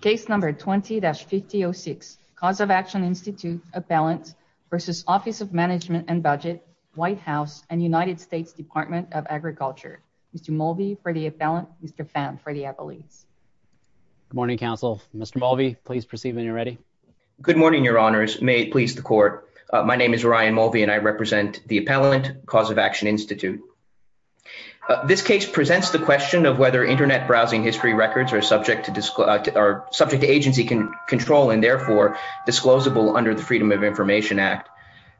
Case number 20-5006, Cause of Action Institute, Appellant v. Office of Management and Budget, White House, and United States Department of Agriculture. Mr. Mulvey for the Appellant, Mr. Pham for the Appellees. Good morning, counsel. Mr. Mulvey, please proceed when you're ready. Good morning, your honors. May it please the court. My name is Ryan Mulvey and I represent the Appellant, Cause of Action Institute. This case presents the question of whether internet browsing history records are subject to agency control and therefore, disclosable under the Freedom of Information Act.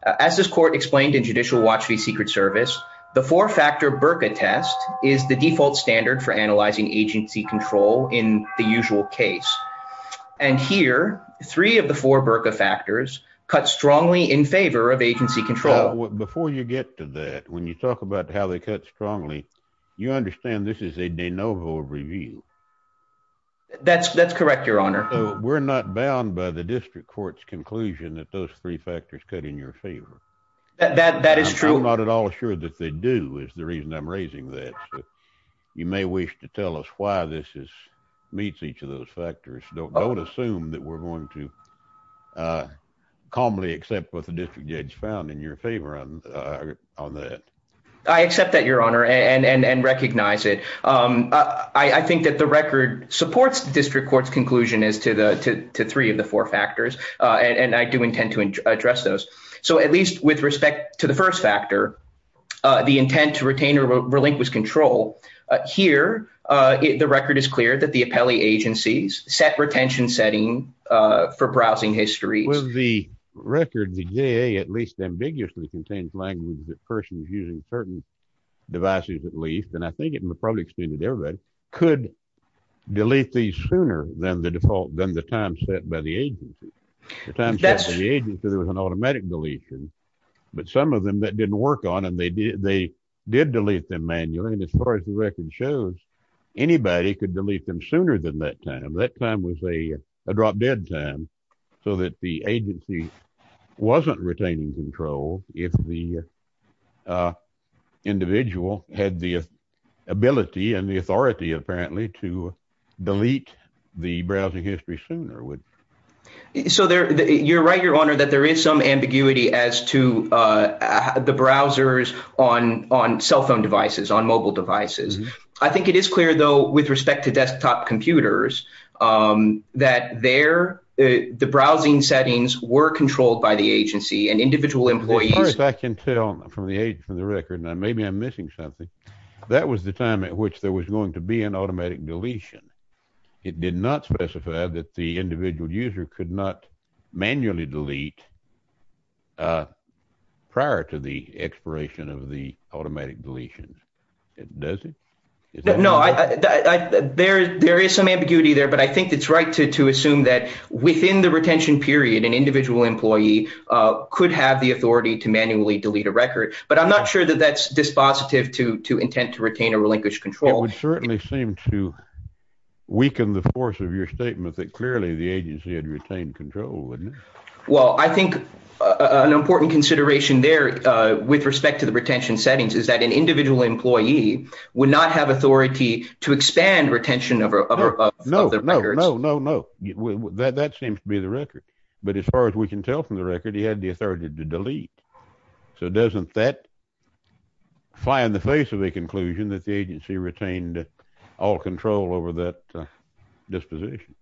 As this court explained in Judicial Watch v. Secret Service, the four-factor BRCA test is the default standard for analyzing agency control in the usual case. And here, three of the four BRCA factors cut strongly in favor of agency control. Before you get to that, when you talk about how they cut strongly, you understand this is a de novo review. That's correct, your honor. We're not bound by the district court's conclusion that those three factors cut in your favor. That is true. I'm not at all sure that they do is the reason I'm raising that. You may wish to tell us why this meets each of those factors. Don't assume that we're going to calmly accept what the district judge found in your favor on that. I accept that, your honor, and recognize it. I think that the record supports the district court's conclusion as to three of the four factors, and I do intend to address those. So at least with respect to the first factor, the intent to retain or relinquish control, here the record is clear that the appellee agencies set retention setting for browsing history. With the record, the JA at least ambiguously contains language that person is using certain devices at least, and I think it would probably explain to everybody, could delete these sooner than the time set by the agency. The time set by the agency, there was an automatic deletion, but some of them that didn't work on them, they did delete them manually, and as far as the record shows, anybody could delete them sooner than that time. That was a drop-dead time, so that the agency wasn't retaining control if the individual had the ability and the authority apparently to delete the browsing history sooner. So you're right, your honor, that there is some ambiguity as to the browsers on cell phone devices. I think it is clear, though, with respect to desktop computers, that the browsing settings were controlled by the agency and individual employees. As far as I can tell from the record, maybe I'm missing something, that was the time at which there was going to be an automatic deletion. It did not specify that the individual user could manually delete prior to the expiration of the automatic deletion. Does it? No, there is some ambiguity there, but I think it's right to assume that within the retention period, an individual employee could have the authority to manually delete a record, but I'm not sure that that's dispositive to intent to retain or relinquish control. It would certainly seem to weaken the force of your statement that clearly the agency had control, wouldn't it? Well, I think an important consideration there with respect to the retention settings is that an individual employee would not have authority to expand retention of their records. No, no, no, no, that seems to be the record, but as far as we can tell from the record, he had the authority to delete. So doesn't that fly in the face of a conclusion that the agency retained all control over that disposition?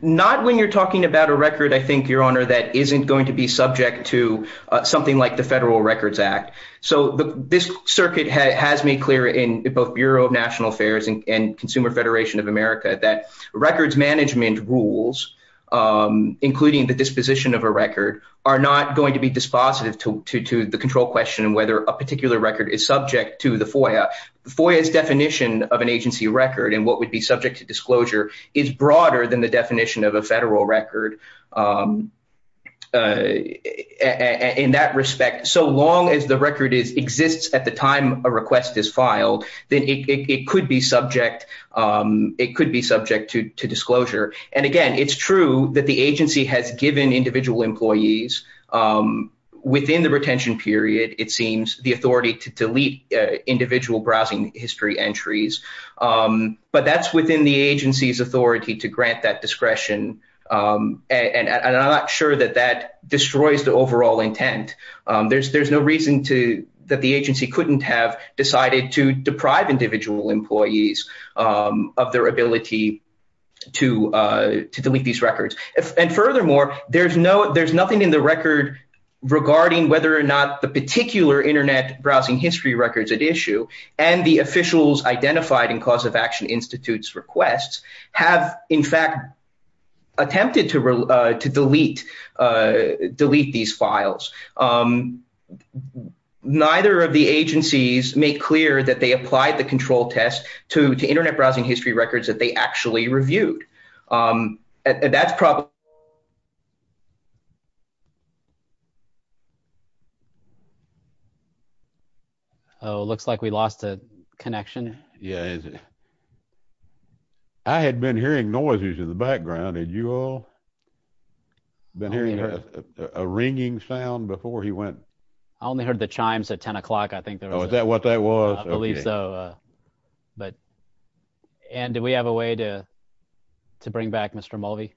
Not when you're talking about a record, I think, Your Honor, that isn't going to be subject to something like the Federal Records Act. So this circuit has made clear in both Bureau of National Affairs and Consumer Federation of America that records management rules, including the disposition of a record, are not going to be dispositive to the control question whether a particular record is subject to the FOIA. FOIA's definition of an agency record and what would be subject to disclosure is broader than the definition of a federal record. In that respect, so long as the record exists at the time a request is filed, then it could be subject, it could be subject to disclosure. And again, it's true that the agency has given individual employees within the retention period, it seems, the authority to delete individual browsing history entries. But that's within the agency's authority to grant that discretion. And I'm not sure that that destroys the overall intent. There's no reason that the agency couldn't have decided to deprive individual employees of their ability to delete these There's nothing in the record regarding whether or not the particular internet browsing history records at issue and the officials identified in Cause of Action Institute's requests have, in fact, attempted to delete these files. Neither of the agencies make clear that they applied the control test to internet browsing history records that they actually reviewed. And that's probably... Oh, it looks like we lost a connection. Yeah, I had been hearing noises in the background. Had you all been hearing a ringing sound before he went? I only heard the chimes at 10 o'clock, I think. Oh, is that what that was? I believe so. Anne, do we have a way to bring back Mr. Mulvey?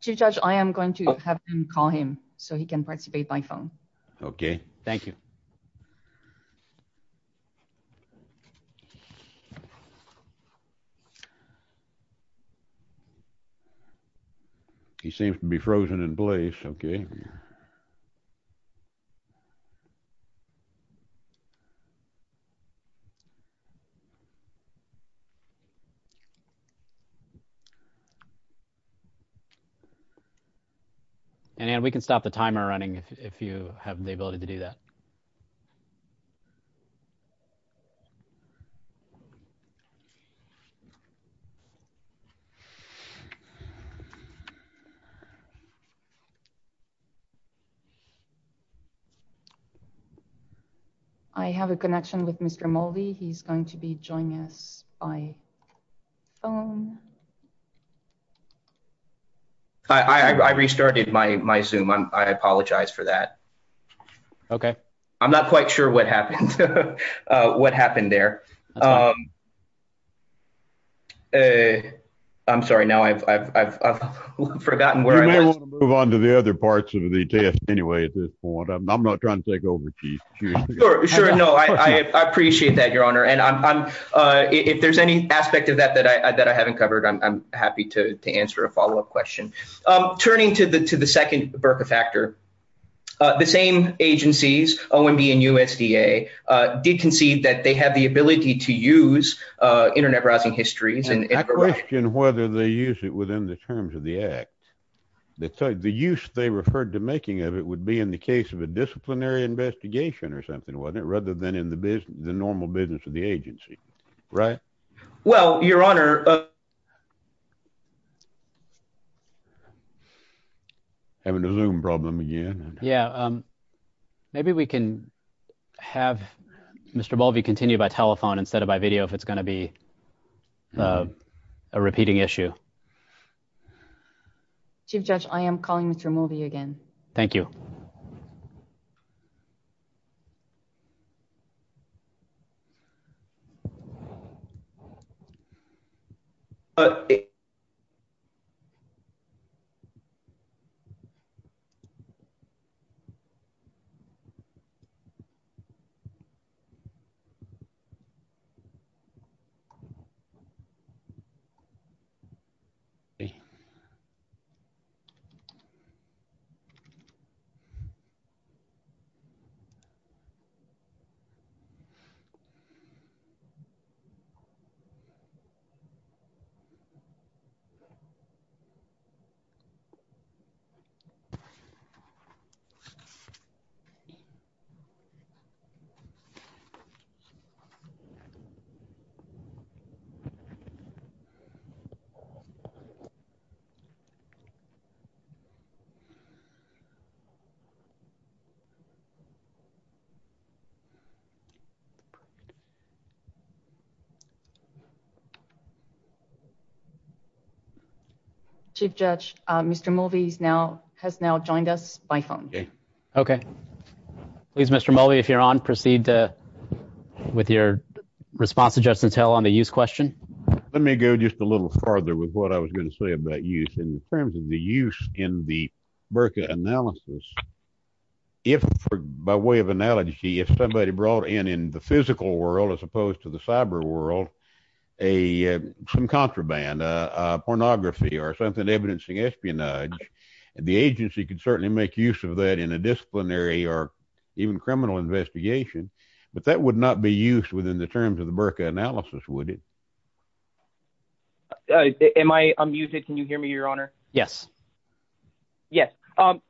Chief Judge, I am going to have him call him so he can participate by phone. Okay. Thank you. He seems to be frozen in place. Okay. And Anne, we can stop the timer running if you have the ability to do that. I have a connection with Mr. Mulvey. He's going to be joining us by phone. I restarted my Zoom. I apologize for that. Okay. I'm not quite sure what happened there. I'm sorry, now I've forgotten where I was. You may want to move on to the other parts of the test anyway at this point. I'm not trying to take over, Chief Judge. Sure. No, I appreciate that, Your Honor. And if there's any aspect of that that I haven't covered, I'm happy to answer a follow-up question. Turning to the second Burka factor, the same agencies, OMB and USDA, did concede that they have the ability to use internet browsing histories. I question whether they use it within the terms of the act. The use they referred to making of it would be in the case of a disciplinary investigation or rather than in the normal business of the agency, right? Well, Your Honor. Having a Zoom problem again. Yeah. Maybe we can have Mr. Mulvey continue by telephone instead of by video if it's going to be a repeating issue. Chief Judge, I am calling Mr. Mulvey again. Thank you. Chief Judge, Mr. Mulvey has now joined us by phone. Okay. Please, Mr. Mulvey, if you're on, proceed with your response to Justice Hill on the use question. Let me go just a little farther with what I was going to say about use in terms of the use in the Burka analysis. If, by way of analogy, if somebody brought in in the physical world, as opposed to the cyber world, some contraband, pornography or something evidencing espionage, the agency could certainly make use of that in a disciplinary or even criminal investigation, but that would not be used within the terms of the Burka analysis, would it? Am I muted? Can you hear me, Your Honor? Yes. Yes. Well,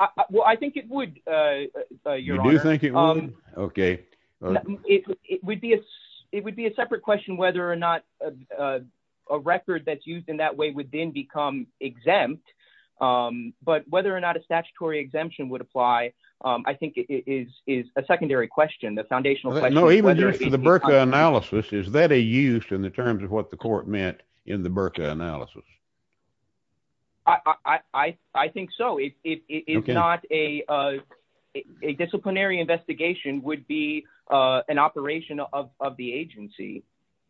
I think it would, Your Honor. You do think it would? Okay. It would be a separate question whether or not a record that's used in that way would then become exempt, but whether or not a statutory exemption would apply, I think it is a secondary question, the foundational question. No, even just for the Burka analysis, is that a use in the terms of what the court meant in the Burka analysis? I think so. It's not a disciplinary investigation, would be an operation of the agency.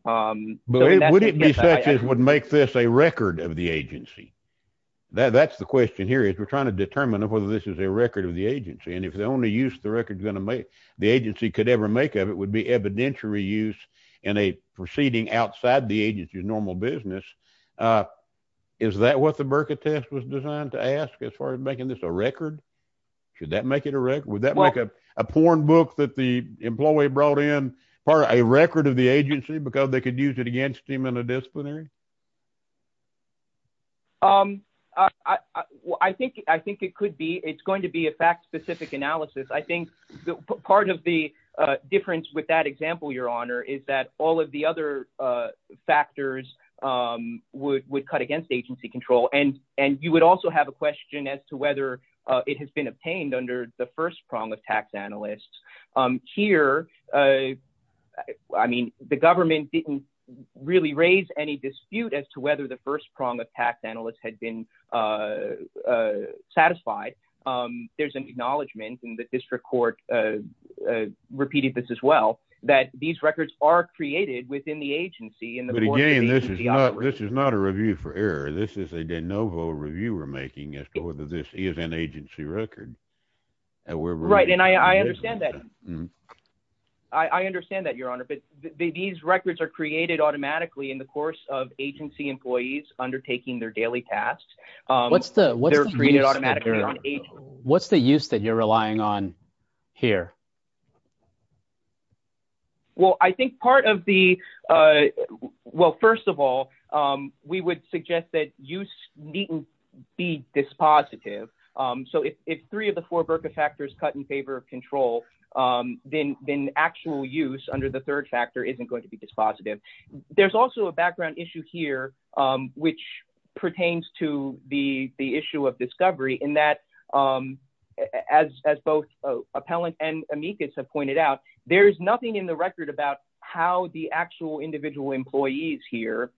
But would it be such as would make this a record of the agency? That's the question here is we're trying to determine whether this is a record of the agency, and if the only use the agency could ever make of it would be evidentiary use in a proceeding outside the agency's normal business. Is that what the Burka test was designed to ask as far as making this a record? Should that make it a record? Would that make a porn book that the employee brought in part of a record of the agency because they could use it against him in a disciplinary? I think it could be. It's going to be a fact-specific analysis. I think part of the difference with that example, Your Honor, is that all of the other factors would cut against agency control. And you would also have a question as to whether it has been obtained under the first prong of tax analysts. Here, I mean, the government didn't really raise any dispute as to whether the first prong of tax analysts had been satisfied. There's an acknowledgment, and the district court repeated this as well, that these records are created within the agency. But again, this is not a review for error. This is a de novo review we're making as to whether this is an agency record. Right, and I understand that. I understand that, Your Honor, but these records are created automatically in the course of agency employees undertaking their daily tasks. What's the use that you're relying on here? Well, I think part of the... Well, first of all, we would suggest that use needn't be dispositive. So if three of the four BRCA factors cut in favor of control, then actual use under the third factor isn't going to be dispositive. There's also a background issue here which pertains to the issue of discovery in that, as both appellant and amicus have pointed out, there's nothing in the record about how the actual individual employees here,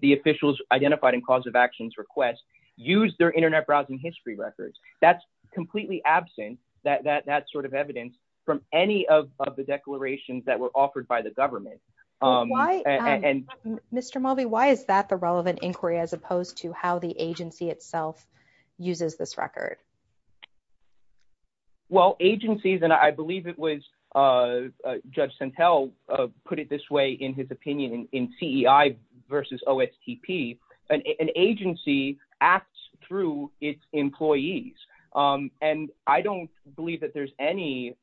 the officials identified in cause of actions request, use their internet browsing history records. That's completely absent, that sort of evidence, from any of the declarations that were offered by the government. Why, Mr. Mulvey, why is that the relevant inquiry as opposed to how the agency itself uses this record? Well, agencies, and I believe it was Judge Sentelle put it this way in his opinion in CEI versus OSTP, an agency acts through its employees. And I don't believe that there's any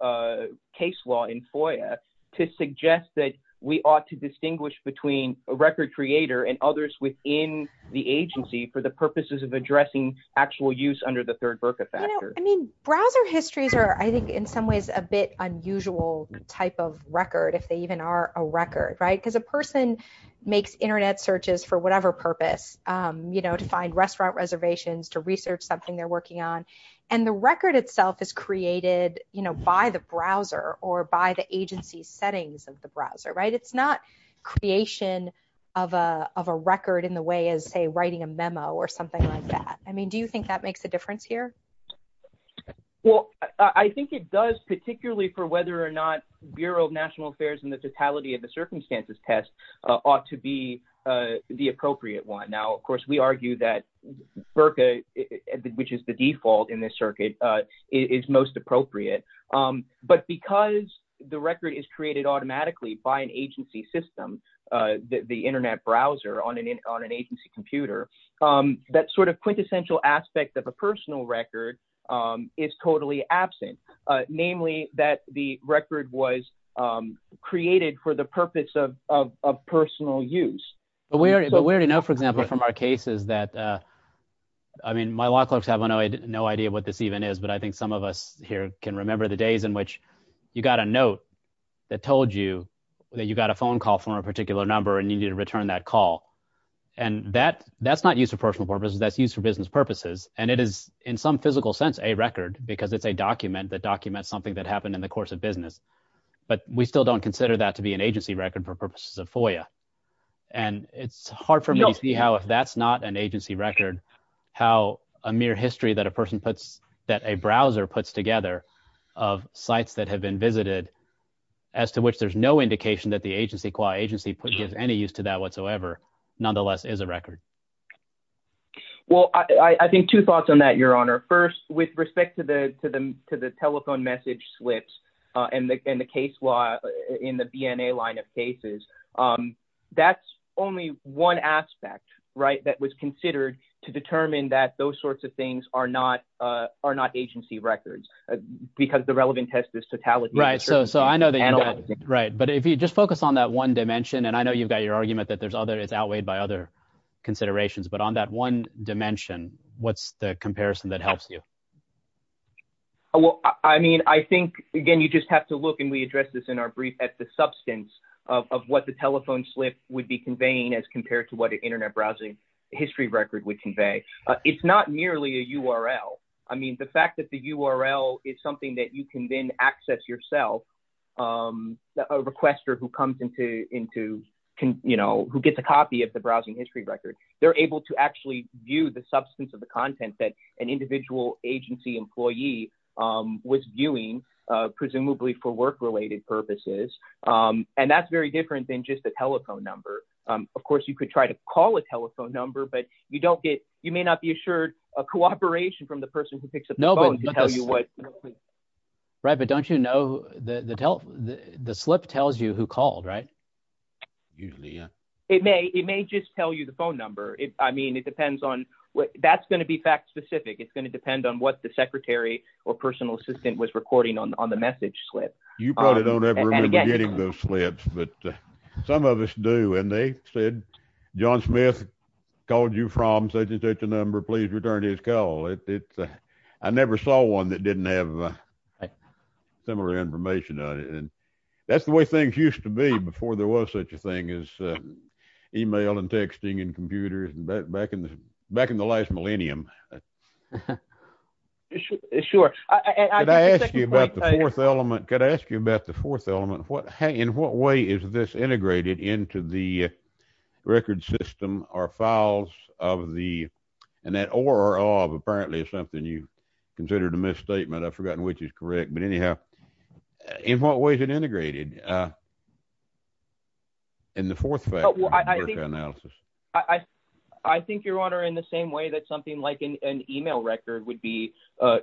case law in FOIA to suggest that we ought to distinguish between a record creator and others within the agency for the purposes of addressing actual use under the third BRCA factor. I mean, browser histories are, I think, in some ways a bit unusual type of record, if they even are a record, right? Because a person makes internet searches for whatever purpose, to find restaurant reservations, to research something they're working on. And the record itself is created by the browser or by the agency settings of the browser, right? It's not creation of a record in the way as, say, writing a memo or something like that. I mean, do you think that makes a difference here? Well, I think it does, particularly for whether or not Bureau of National Affairs and the totality of the circumstances test ought to be the appropriate one. Now, of course, we argue that BRCA, which is the default in this circuit, is most appropriate. But because the record is created automatically by an agency system, the internet browser on an agency computer, that sort of quintessential aspect of a personal record is totally absent. Namely, that the record was created for the purpose of personal use. But we already know, for example, from our cases that I mean, my law clerks have no idea what this even is, but I think some of us here can remember the days in which you got a note that told you that you got a phone call from a particular number and you need to return that call. And that's not used for personal purposes, that's used for business purposes. And it is, in some physical sense, a record because it's a document that documents something that happened in the course of business. But we still don't consider that to be an agency record for purposes of FOIA. And it's hard for me to see how if that's not an agency record, how a mere history that a browser puts together of sites that have been visited, as to which there's no indication that the agency gives any use to that whatsoever, nonetheless is a record. Well, I think two thoughts on that, Your Honor. First, with respect to the telephone message slips and the case law in the BNA line of cases, that's only one aspect that was considered to determine that those sorts of things are not agency records because the relevant test is totality. Right. But if you just focus on that one dimension, and I know you've got your argument that it's outweighed by other considerations, but on that one dimension, what's the comparison that helps you? Well, I mean, I think, again, you just have to look, and we addressed this in our brief, at the substance of what the telephone slip would be conveying as compared to what an internet browsing history record would convey. It's not merely a URL. I mean, the fact that the URL is something that you can then access yourself, a requester who gets a copy of the browsing history record, they're able to actually view the substance of the content that an individual agency employee was viewing, presumably for work-related purposes, and that's very different than just a telephone number. Of course, you could try to call a telephone number, but you may not be assured of cooperation from the person who picks up the phone to tell you what- Right, but don't you know, the slip tells you who called, right? Usually, yeah. It may. It may just tell you the phone number. I mean, it depends on... That's going to be fact-specific. It's going to depend on what the secretary or personal assistant was recording on the message slip. You probably don't ever remember getting those slips, but some of us do, and they said, John Smith called you from such and such a number. Please return his call. I never saw one that didn't have similar information on it, and that's the way things used to be before there was such a millennium. Sure. Could I ask you about the fourth element? Could I ask you about the fourth element? In what way is this integrated into the record system or files of the... And that or, or of, apparently, is something you considered a misstatement. I've forgotten which is correct, but anyhow, in what way is it integrated in the fourth factor analysis? I think, Your Honor, in the same way that something like an email record would be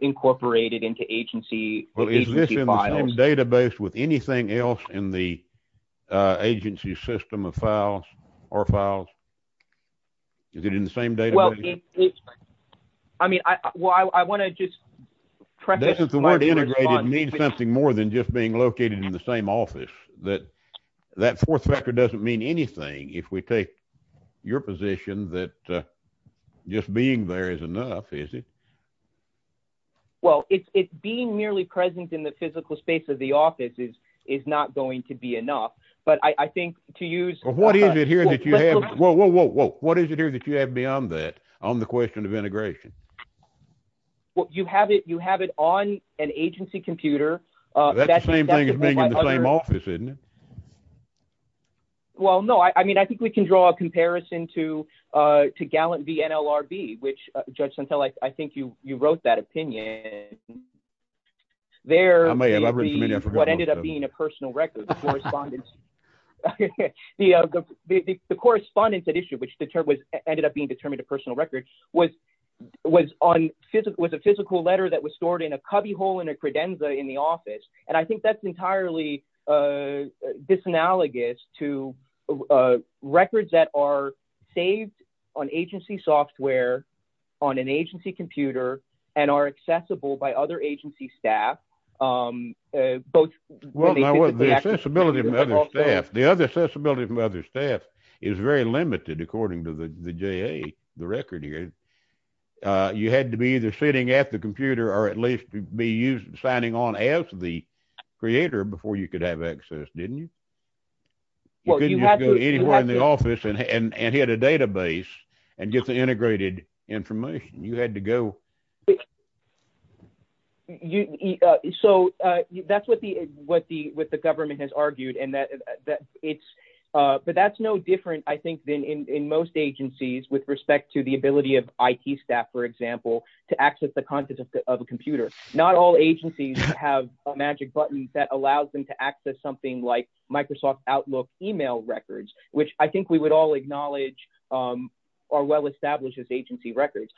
incorporated into agency files. Well, is this in the same database with anything else in the agency system of files or files? Is it in the same database? Well, it's... I mean, I want to just preface... This is the word integrated means something more than just being located in the same office, that that fourth factor doesn't mean anything if we take your position that just being there is enough, is it? Well, it's being merely present in the physical space of the office is not going to be enough, but I think to use... What is it here that you have? Whoa, whoa, whoa, whoa. What is it here that you have beyond that on the question of integration? Well, you have it on an agency computer. That's the same thing as being in the same office, isn't it? Well, no. I mean, I think we can draw a comparison to Gallant v. NLRB, which, Judge Santel, I think you wrote that opinion. There may be what ended up being a personal record, the correspondence. The correspondence that issue, which ended up being determined a personal record, was a physical letter that was stored in a cubbyhole in a credenza in the office, and I think that's entirely disanalogous to records that are saved on agency software, on an agency computer, and are accessible by other agency staff. The other accessibility from other staff is very limited according to the JA, the record here. You had to be either sitting at the computer or at least be signing on as the creator before you could have access, didn't you? Well, you had to. You couldn't just go anywhere in the office and hit a database and get the integrated information. You had to go... So, that's what the government has argued, but that's no different, I think, in most agencies with respect to the ability of IT staff, for example, to access the contents of a computer. Not all agencies have a magic button that allows them to access something like Microsoft Outlook email records, which I think we would all acknowledge are well-established as agency records.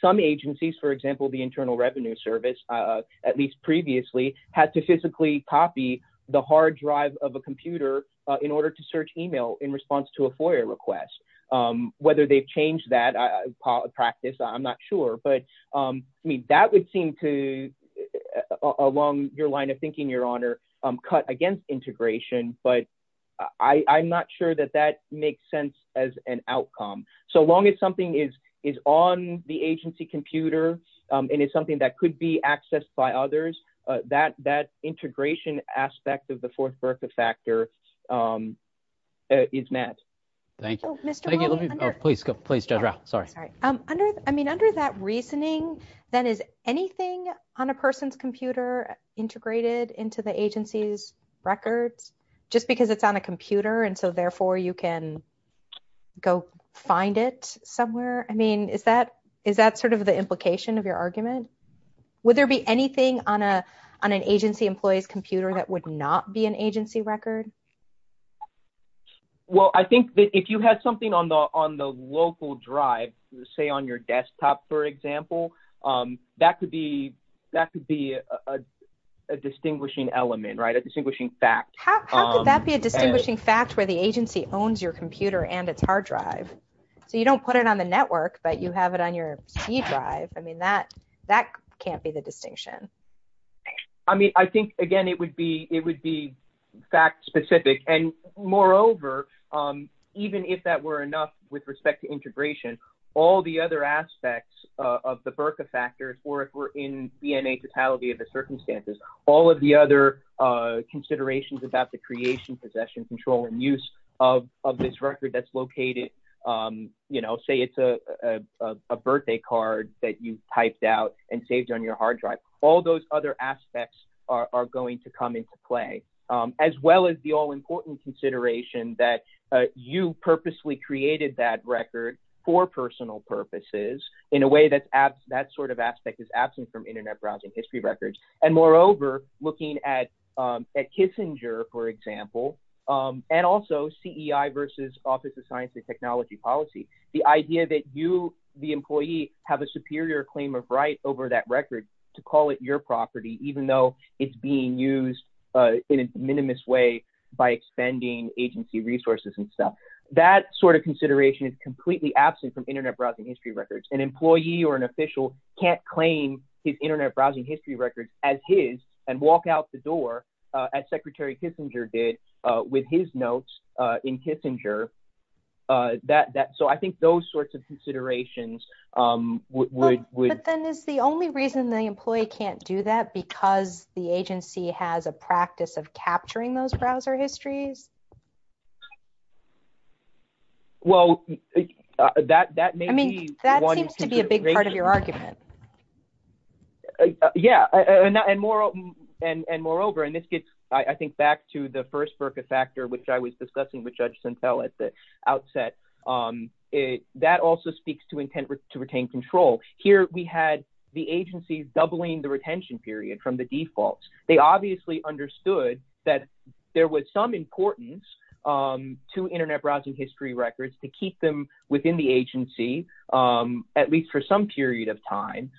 Some agencies, for example, the Internal Revenue Service, at least previously, had to physically copy the hard drive of a computer in order to Whether they've changed that practice, I'm not sure, but that would seem to, along your line of thinking, Your Honor, cut against integration, but I'm not sure that that makes sense as an outcome. So, long as something is on the agency computer and is something that could be accessed by others, that integration aspect of the fourth birth factor is met. Thank you. Please, Judge Rao. Sorry. Sorry. I mean, under that reasoning, then, is anything on a person's computer integrated into the agency's records just because it's on a computer and so, therefore, you can go find it somewhere? I mean, is that sort of the implication of your argument? Would there be anything on an agency employee's computer that would not be an agency record? Well, I think that if you had something on the local drive, say, on your desktop, for example, that could be a distinguishing element, right? A distinguishing fact. How could that be a distinguishing fact where the agency owns your computer and its hard drive? So, you don't put it on the network, but you have it on your C drive. I mean, that can't be the Moreover, even if that were enough with respect to integration, all the other aspects of the BRCA factors or if we're in DNA totality of the circumstances, all of the other considerations about the creation, possession, control, and use of this record that's located, say, it's a birthday card that you've typed out and saved on your hard drive. All those other aspects are going to come into play, as well as the all-important consideration that you purposely created that record for personal purposes in a way that that sort of aspect is absent from internet browsing history records. And moreover, looking at Kissinger, for example, and also CEI versus Office of Science and Technology Policy, the idea that you, the employee, have a superior claim of right over that record to call it your property, even though it's being used in a minimalist way by expending agency resources and stuff. That sort of consideration is completely absent from internet browsing history records. An employee or an official can't claim his internet browsing history records as his and walk out the door, as Secretary Kissinger did, with his notes in Kissinger. So, I think those sorts of considerations would... But then is the only reason the employee can't do that because the agency has a practice of capturing those browser histories? Well, that may be... I mean, that seems to be a big part of your argument. Yeah, and moreover, and this gets, I think, back to the first Berka factor, which I was discussing with Judge Sentelle at the outset. That also speaks to intent to retain control. Here, we had the agency doubling the retention period from the defaults. They obviously understood that there was some importance to internet browsing history records to keep them within the agency, at least for some period of time.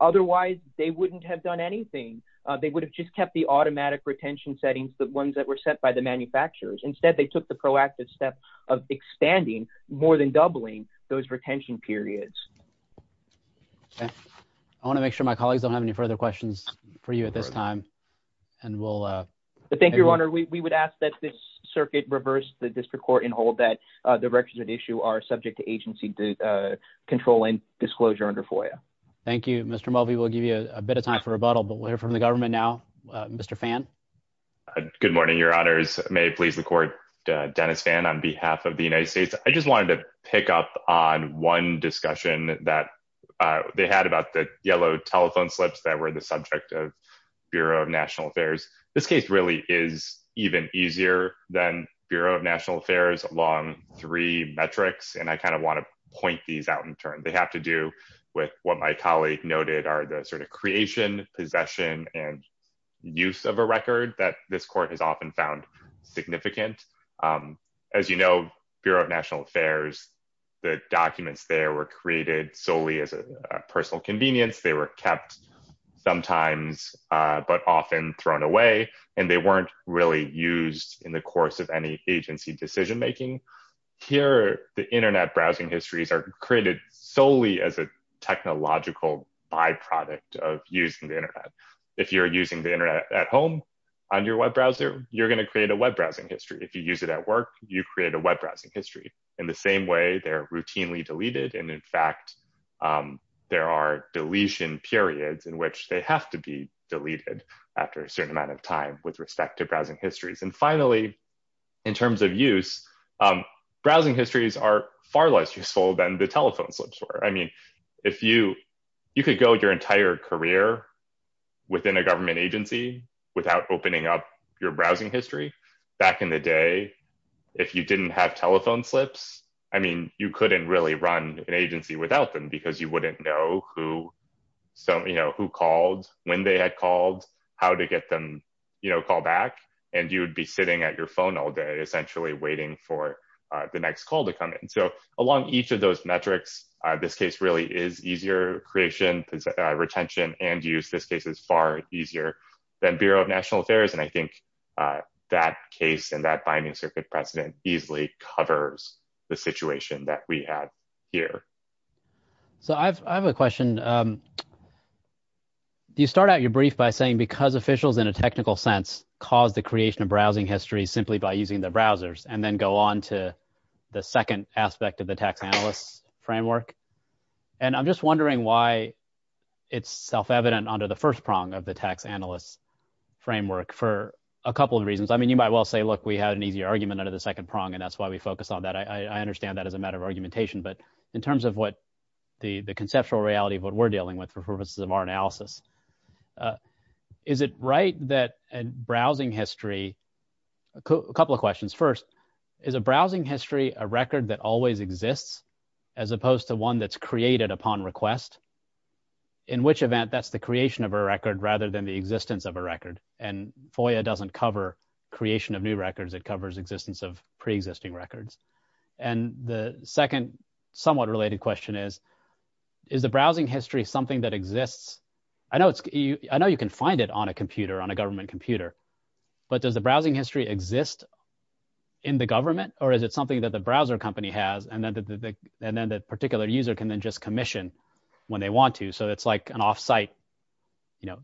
Otherwise, they wouldn't have done anything. They would have just kept the automatic retention settings, the ones that were set by the manufacturers. Instead, they took the proactive step of expanding more than doubling those retention periods. Okay. I want to make sure my colleagues don't have any further questions for you at this time, and we'll... Thank you, Your Honor. We would ask that this circuit reverse the district court and hold that the records at issue are subject to agency control and disclosure under FOIA. Thank you. Mr. Mulvey, we'll give you a bit of time for rebuttal, but we'll hear from the government now. Mr. Phan? Good morning, Your Honors. May it please the court, Dennis Phan on behalf of the United States. I just wanted to pick up on one discussion that they had about the yellow telephone slips that were the subject of Bureau of National Affairs. This case really is even easier than Bureau of National Affairs along three metrics, and I want to point these out in turn. They have to do with what my colleague noted are the creation, possession, and use of a record that this court has often found significant. As you know, Bureau of National Affairs, the documents there were created solely as a personal convenience. They were kept sometimes, but often thrown away, and they weren't really used in the course of any agency decision-making. Here, the internet browsing histories are created solely as a technological byproduct of using the internet. If you're using the internet at home on your web browser, you're going to create a web browsing history. If you use it at work, you create a web browsing history. In the same way, they're routinely deleted. In fact, there are deletion periods in which they have to be deleted after a certain amount of time with respect to browsing histories. Finally, in terms of use, browsing histories are far less useful than the telephone slips were. You could go your entire career within a government agency without opening up your browsing history. Back in the day, if you didn't have telephone slips, you couldn't really run an agency without them because you wouldn't know who called, when they had called, how to get them to call back, and you'd be sitting at your phone all day, essentially, waiting for the next call to come in. Along each of those metrics, this case really is easier creation, retention, and use. This case is far easier than Bureau of National Affairs. I think that case and that binding circuit precedent easily covers the situation that we have here. So I have a question. You start out your brief by saying, because officials in a technical sense caused the creation of browsing histories simply by using the browsers, and then go on to the second aspect of the tax analyst's framework. I'm just wondering why it's self-evident under the first prong of the tax analyst's framework for a couple of reasons. You might well say, look, we had an easier argument under the second prong, and that's why we focused on that. I the conceptual reality of what we're dealing with for purposes of our analysis. Is it right that a browsing history... A couple of questions. First, is a browsing history a record that always exists as opposed to one that's created upon request? In which event, that's the creation of a record rather than the existence of a record? FOIA doesn't cover creation of new records. It covers existence of preexisting records. And the second somewhat related question is, is the browsing history something that exists? I know you can find it on a computer, on a government computer, but does the browsing history exist in the government, or is it something that the browser company has, and then the particular user can then just commission when they want to? So it's like an offsite,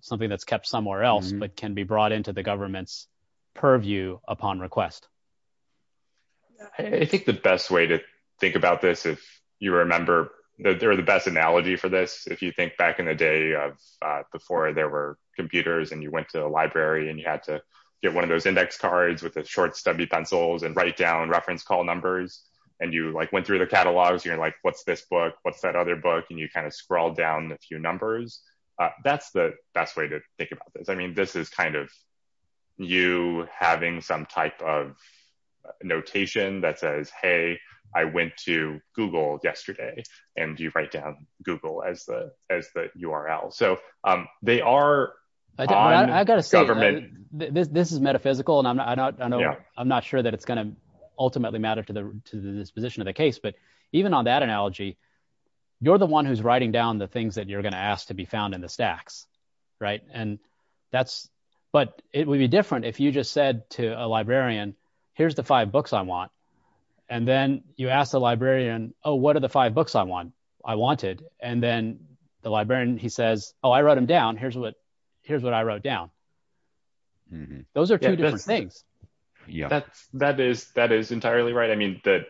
something that's kept somewhere else, but can be brought into the government's The best way to think about this, if you remember, they're the best analogy for this. If you think back in the day of before there were computers, and you went to a library, and you had to get one of those index cards with a short stubby pencils and write down reference call numbers, and you went through the catalogs, you're like, what's this book? What's that other book? And you kind of scroll down a few numbers. That's the best way to think about this. I mean, this is kind of you having some type of notation that says, hey, I went to Google yesterday, and you write down Google as the URL. So they are on government. This is metaphysical, and I'm not sure that it's going to ultimately matter to the disposition of the case. But even on that analogy, you're the one who's writing down the things that you're asked to be found in the stacks. But it would be different if you just said to a librarian, here's the five books I want. And then you ask the librarian, oh, what are the five books I want? I wanted. And then the librarian, he says, oh, I wrote them down. Here's what I wrote down. Those are two different things. That is entirely right. I mean, the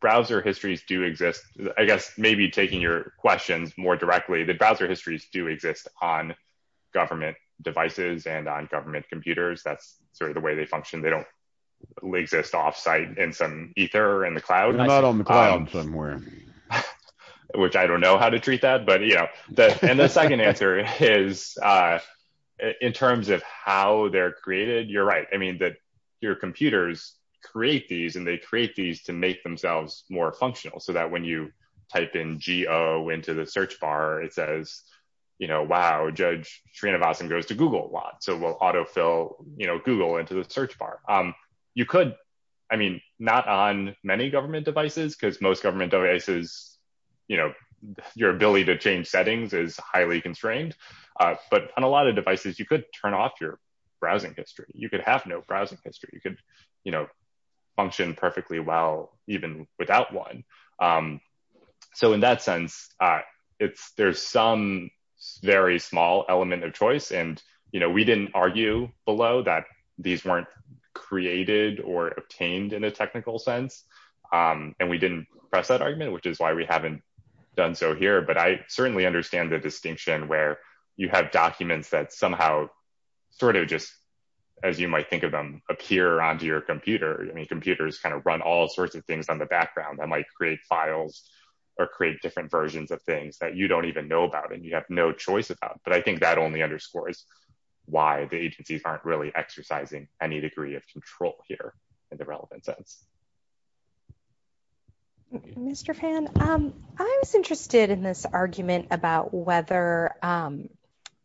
browser histories do exist. I guess maybe taking your questions more directly, the browser histories do exist on government devices and on government computers. That's sort of the way they function. They don't exist off-site in some ether in the cloud. Not on the cloud somewhere. Which I don't know how to treat that. And the second answer is, in terms of how they're created, you're right. I mean, your computers create these, and they create these to make themselves more functional. So that when you type in geo into the search bar, it says, wow, Judge Srinivasan goes to Google a lot. So it will autofill Google into the search bar. You could, I mean, not on many government devices, because most government devices, your ability to change settings is highly constrained. But on a lot of devices, you could turn off your browsing history. You could have no browsing history. You could function perfectly well even without one. So in that sense, there's some very small element of choice. And we didn't argue below that these weren't created or obtained in a technical sense. And we didn't press that argument, which is why we haven't done so here. But I certainly understand the distinction where you have documents that somehow sort of just, as you might think of them, appear onto your computer. I mean, computers kind of run all sorts of things on the background that might create files or create different versions of things that you don't even know about, and you have no choice about. But I think that only underscores why the agencies aren't really exercising any degree of control here in the relevant sense. Thank you. Mr. Phan, I was interested in this argument about whether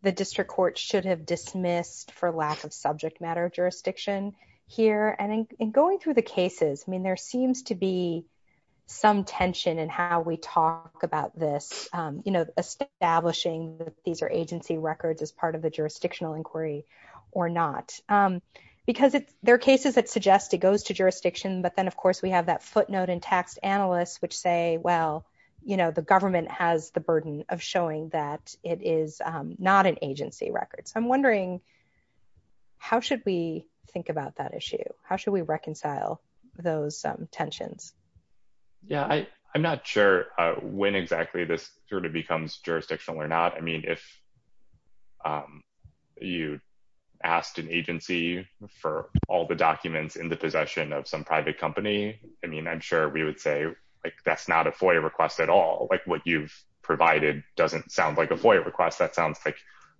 the district court should have dismissed for lack of subject matter jurisdiction here. And in going through the cases, I mean, there seems to be some tension in how we talk about this, you know, establishing that these are agency records as part of the jurisdictional inquiry or not. Because there are cases that suggest it goes to the district court. But then, of course, we have that footnote in taxed analysts, which say, well, you know, the government has the burden of showing that it is not an agency record. So I'm wondering, how should we think about that issue? How should we reconcile those tensions? Yeah, I'm not sure when exactly this sort of becomes jurisdictional or not. I mean, if you asked an agency for all the documents in the possession of some private company, I mean, I'm sure we would say, like, that's not a FOIA request at all. Like what you've provided doesn't sound like a FOIA request. That sounds like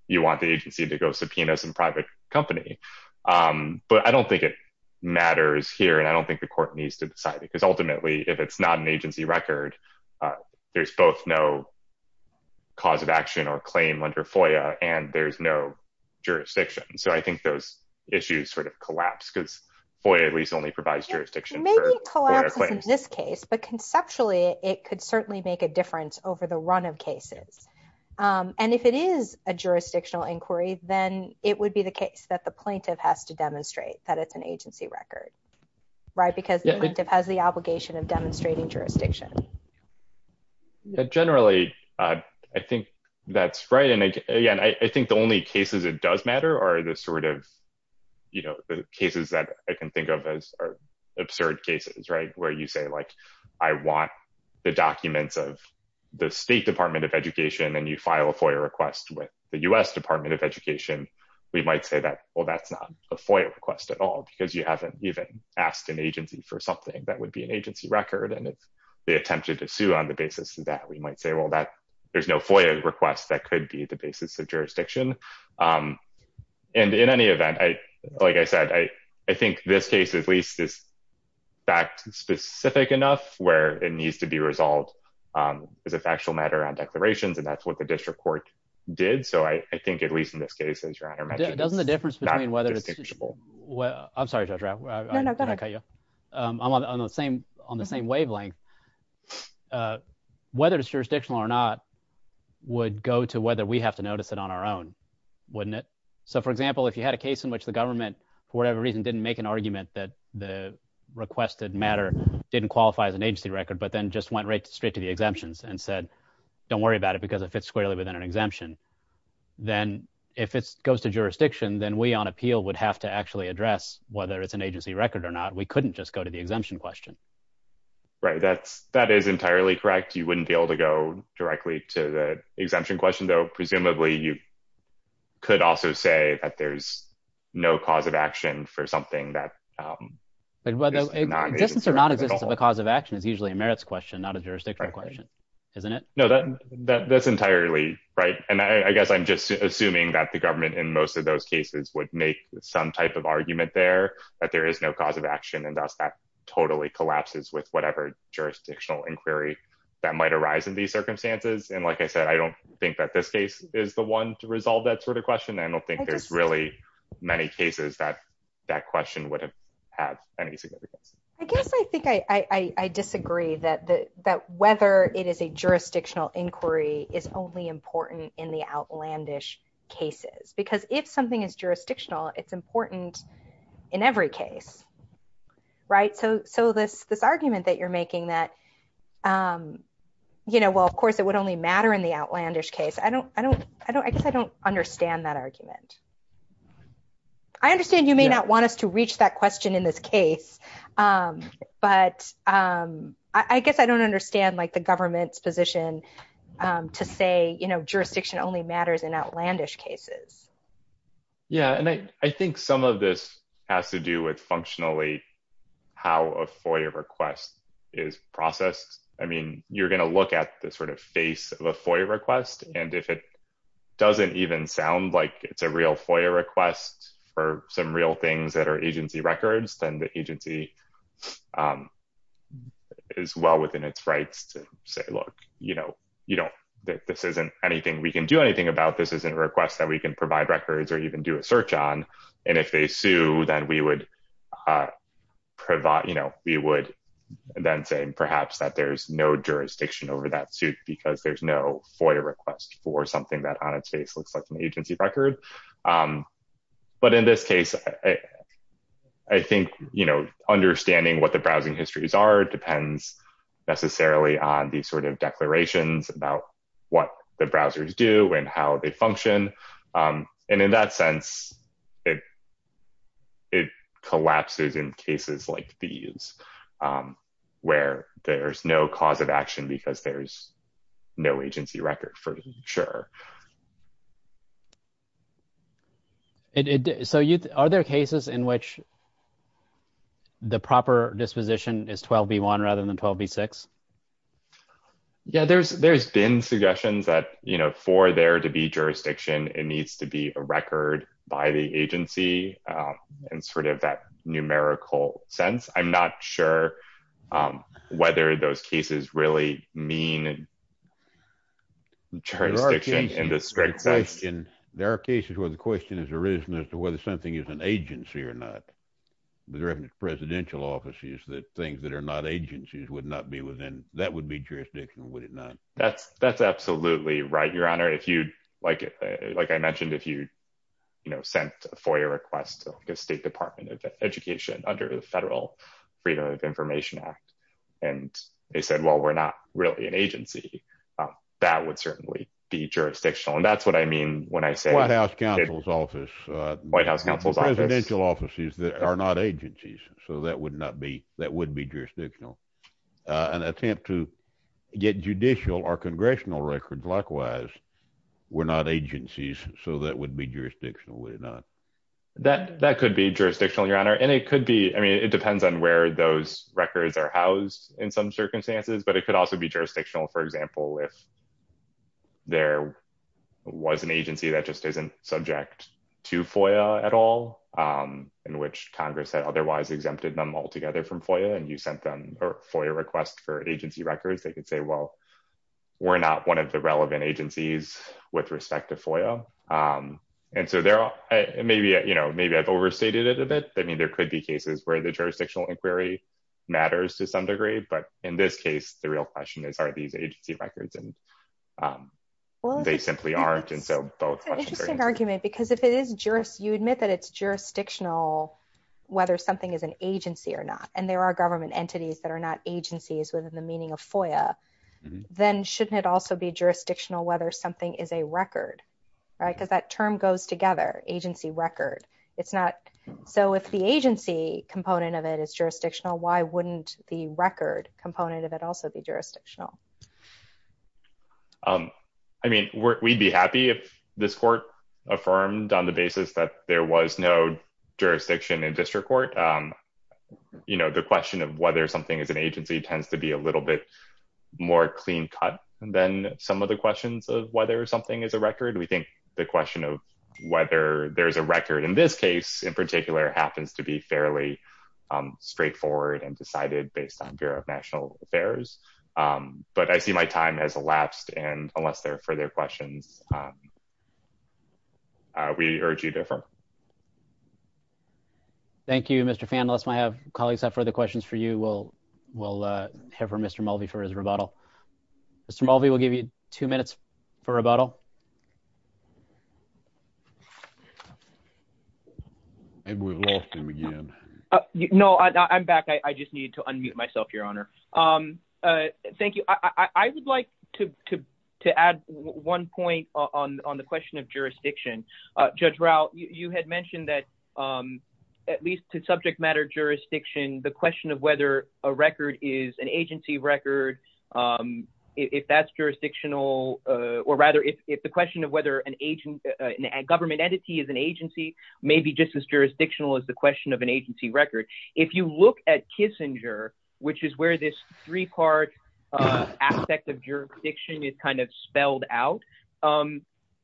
you want the agency to go subpoena some private company. But I don't think it matters here. And I don't think the court needs to decide because ultimately, if it's not an agency record, there's both no cause of action or claim under FOIA, and there's no jurisdiction. So I think those issues sort of collapse, because FOIA at least only provides jurisdiction for FOIA claims. Maybe it collapses in this case, but conceptually, it could certainly make a difference over the run of cases. And if it is a jurisdictional inquiry, then it would be the case that the plaintiff has to demonstrate that it's an agency record, right? Because the plaintiff has the obligation of demonstrating jurisdiction. Yeah, generally, I think that's right. And again, I think the only cases it does matter are the sort of, you know, the cases that I can think of as are absurd cases, right? Where you say, like, I want the documents of the State Department of Education, and you file a FOIA request with the US Department of Education, we might say that, well, that's not a FOIA request at all, because you haven't even asked an agency for something that would be an agency record. And the attempt to sue on the basis of that, we might say, well, there's no FOIA request that could be the basis of jurisdiction. And in any event, like I said, I think this case, at least, is fact specific enough where it needs to be resolved as a factual matter on declarations. And that's what the district court did. So I think at least in this case, as your Honor mentioned, it's not a wavelength. Whether it's jurisdictional or not, would go to whether we have to notice it on our own, wouldn't it? So for example, if you had a case in which the government, for whatever reason, didn't make an argument that the requested matter didn't qualify as an agency record, but then just went right straight to the exemptions and said, don't worry about it, because it fits squarely within an exemption, then if it goes to jurisdiction, then we on appeal would have to actually address whether it's an agency record or not, we couldn't just go to the exemption question. Right, that's that is entirely correct. You wouldn't be able to go directly to the exemption question, though. Presumably, you could also say that there's no cause of action for something that is not an agency record. Existence or non-existence of a cause of action is usually a merits question, not a jurisdictional question, isn't it? No, that's entirely right. And I guess I'm just assuming that the government in most of those cases would make some type of argument there, that there is no cause of action, and thus that totally collapses with whatever jurisdictional inquiry that might arise in these circumstances. And like I said, I don't think that this case is the one to resolve that sort of question. I don't think there's really many cases that that question would have had any significance. I guess I think I disagree that whether it is a jurisdictional inquiry is only important in the outlandish cases, because if something is jurisdictional, it's important in every case, right? So this argument that you're making that, you know, well, of course, it would only matter in the outlandish case. I don't, I don't, I don't, I guess I don't understand that argument. I understand you may not want us to reach that question in this case. But I guess I don't understand like the government's position to say, you know, jurisdiction only matters in outlandish cases. Yeah, and I think some of this has to do with functionally how a FOIA request is processed. I mean, you're going to look at the sort of face of a FOIA request. And if it doesn't even sound like it's a real FOIA request for some real things that are agency records, then the agency is well within its rights to say, look, you know, you don't, this isn't anything we can do anything about this isn't a request that we can provide records or even do a search on. And if they sue, then we would provide, you know, we would then say, perhaps that there's no jurisdiction over that suit, because there's no FOIA request for something that on its face looks like an agency record. But in this case, I think, you know, understanding what the browsing histories are depends necessarily on the sort of declarations about what the browsers do and how they function. And in that sense, it, it collapses in cases like these, where there's no cause of action, because there's no agency record for sure. It so you are there cases in which the proper disposition is 12 v one rather than 12 v six? Yeah, there's there's been suggestions that, you know, for there to be jurisdiction, it needs to be a record by the agency. And sort of that numerical sense, I'm not sure whether those cases really mean a jurisdiction in the strict sense. In there are cases where the question has arisen as to whether something is an agency or not. The reference presidential offices that things that are not agencies would not be within that would be jurisdictional, would it not? That's, that's absolutely right, Your Honor, if you'd like, like I mentioned, if you, you know, sent a FOIA request to the State Department of Education under the Federal Freedom of Information Act, and they said, well, we're not really an agency, that would certainly be jurisdictional. And that's what I mean, when I say White House counsel's office, White House counsel's presidential offices that are not agencies. So that would not be that would be jurisdictional. An attempt to get judicial or congressional records. Likewise, we're not agencies. So that would be jurisdictional, would it not? That that could be jurisdictional, Your Honor, and it could be, I mean, it depends on where those records are housed in some circumstances, but it could also be jurisdictional, for example, if there was an agency that just isn't subject to FOIA at all, in which Congress had otherwise exempted them altogether from FOIA, and you sent them a FOIA request for agency records, they could say, well, we're not one of the relevant agencies with respect to FOIA. And so there are maybe, you know, maybe I've overstated it a bit. I mean, there could be cases where the jurisdictional inquiry matters to some degree. But in this case, the real question is, are these agency records? And they simply aren't. And so that's an interesting argument, because if it is just you admit that it's jurisdictional, whether something is an agency or not, and there are government entities that are not agencies within the meaning of FOIA, then shouldn't it also be jurisdictional whether something is a record? Right? Because that term goes together agency record. It's not. So if the agency component of it is jurisdictional, why wouldn't the record component of it also be jurisdictional? Um, I mean, we'd be happy if this court affirmed on the basis that there was no jurisdiction in district court. You know, the question of whether something is an agency tends to be a little bit more clean cut than some of the questions of whether something is a record. We think the question of whether there is a record in this case, in particular, happens to be fairly straightforward and decided based on Bureau of National Affairs. But I see my time has elapsed. And unless there are further questions, we urge you to affirm. Thank you, Mr. Phan. Unless my colleagues have further questions for you, we'll head for Mr Mulvey for his rebuttal. Mr Mulvey will give you two minutes for rebuttal. And we've lost him again. No, I'm back. I just need to unmute myself, Your Honor. Um, thank you. I would like to add one point on the question of jurisdiction. Judge Rao, you had mentioned that, um, at least to subject matter jurisdiction, the question of whether a record is an agency record, um, if that's jurisdictional, uh, or rather if the question of whether an agent, a government entity is an agency may be just as jurisdictional as the question of an agency record. If you look at Kissinger, which is where this three part, uh, aspect of jurisdiction is kind of spelled out, um,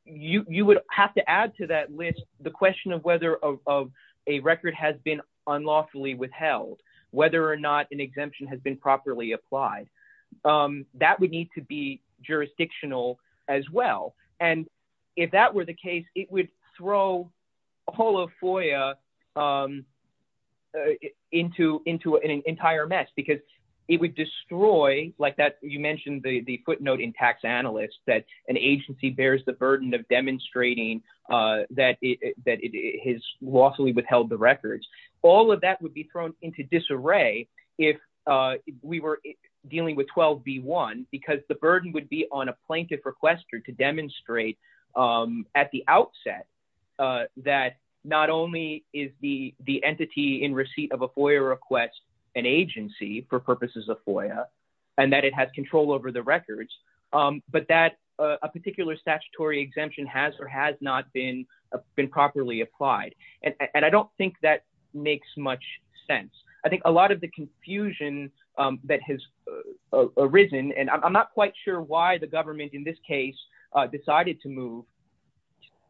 you would have to add to that list the question of whether of a record has been unlawfully withheld, whether or not an exemption has been properly applied. Um, that would need to be jurisdictional as well. And if that were the case, it would throw a whole FOIA, um, uh, into, into an entire mess because it would destroy like that. You mentioned the footnote in tax analysts that an agency bears the burden of demonstrating, uh, that it, that it has lawfully withheld the records. All of that would be thrown into disarray if, uh, we were dealing with 12B1 because the burden would be on a plaintiff requester to demonstrate, um, at the outset, uh, that not only is the, the entity in receipt of a FOIA request, an agency for purposes of FOIA, and that it has control over the records, um, but that, uh, a particular statutory exemption has or has not been, uh, been properly applied. And I don't think that makes much sense. I think a lot of the confusion, um, that has, uh, arisen, and I'm not quite sure why the government in this case, uh, decided to move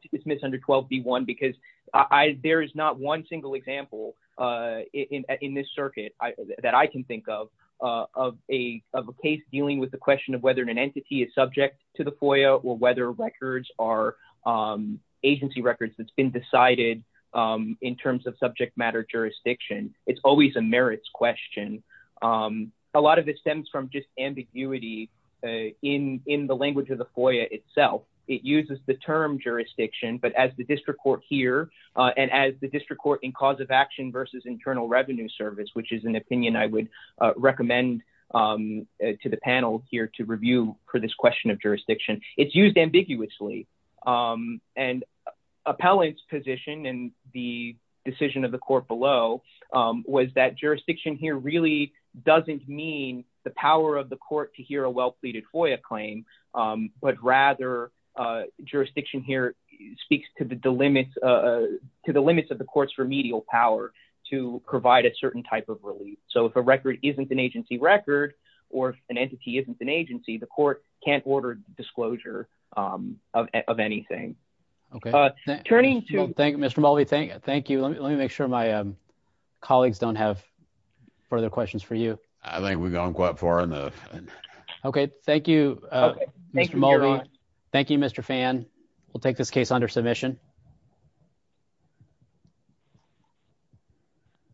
to dismiss under 12B1 because I, there is not one single example, uh, in, in this circuit that I can think of, uh, of a, of a case dealing with the question of whether an entity is subject to the FOIA or whether records are, um, agency records that's been decided, um, in terms of subject matter jurisdiction. It's always a merits question. Um, a lot of it stems from just ambiguity, uh, in, in the language of the FOIA itself. It uses the term jurisdiction, but as the district court here, uh, and as the district court in cause of action versus internal revenue service, which is an um, uh, to the panel here to review for this question of jurisdiction, it's used ambiguously. Um, and appellate's position and the decision of the court below, um, was that jurisdiction here really doesn't mean the power of the court to hear a well pleaded FOIA claim. Um, but rather, uh, jurisdiction here speaks to the limits, uh, to the limits of the courts for medial power to provide a certain type of relief. So if a record isn't an agency record or if an entity isn't an agency, the court can't order disclosure, um, of, of anything. Okay. Uh, turning to thank Mr. Mulvey. Thank you. Let me, let me make sure my, um, colleagues don't have further questions for you. I think we've gone quite far enough. Okay. Thank you. Uh, thank you, Mr. Fan. We'll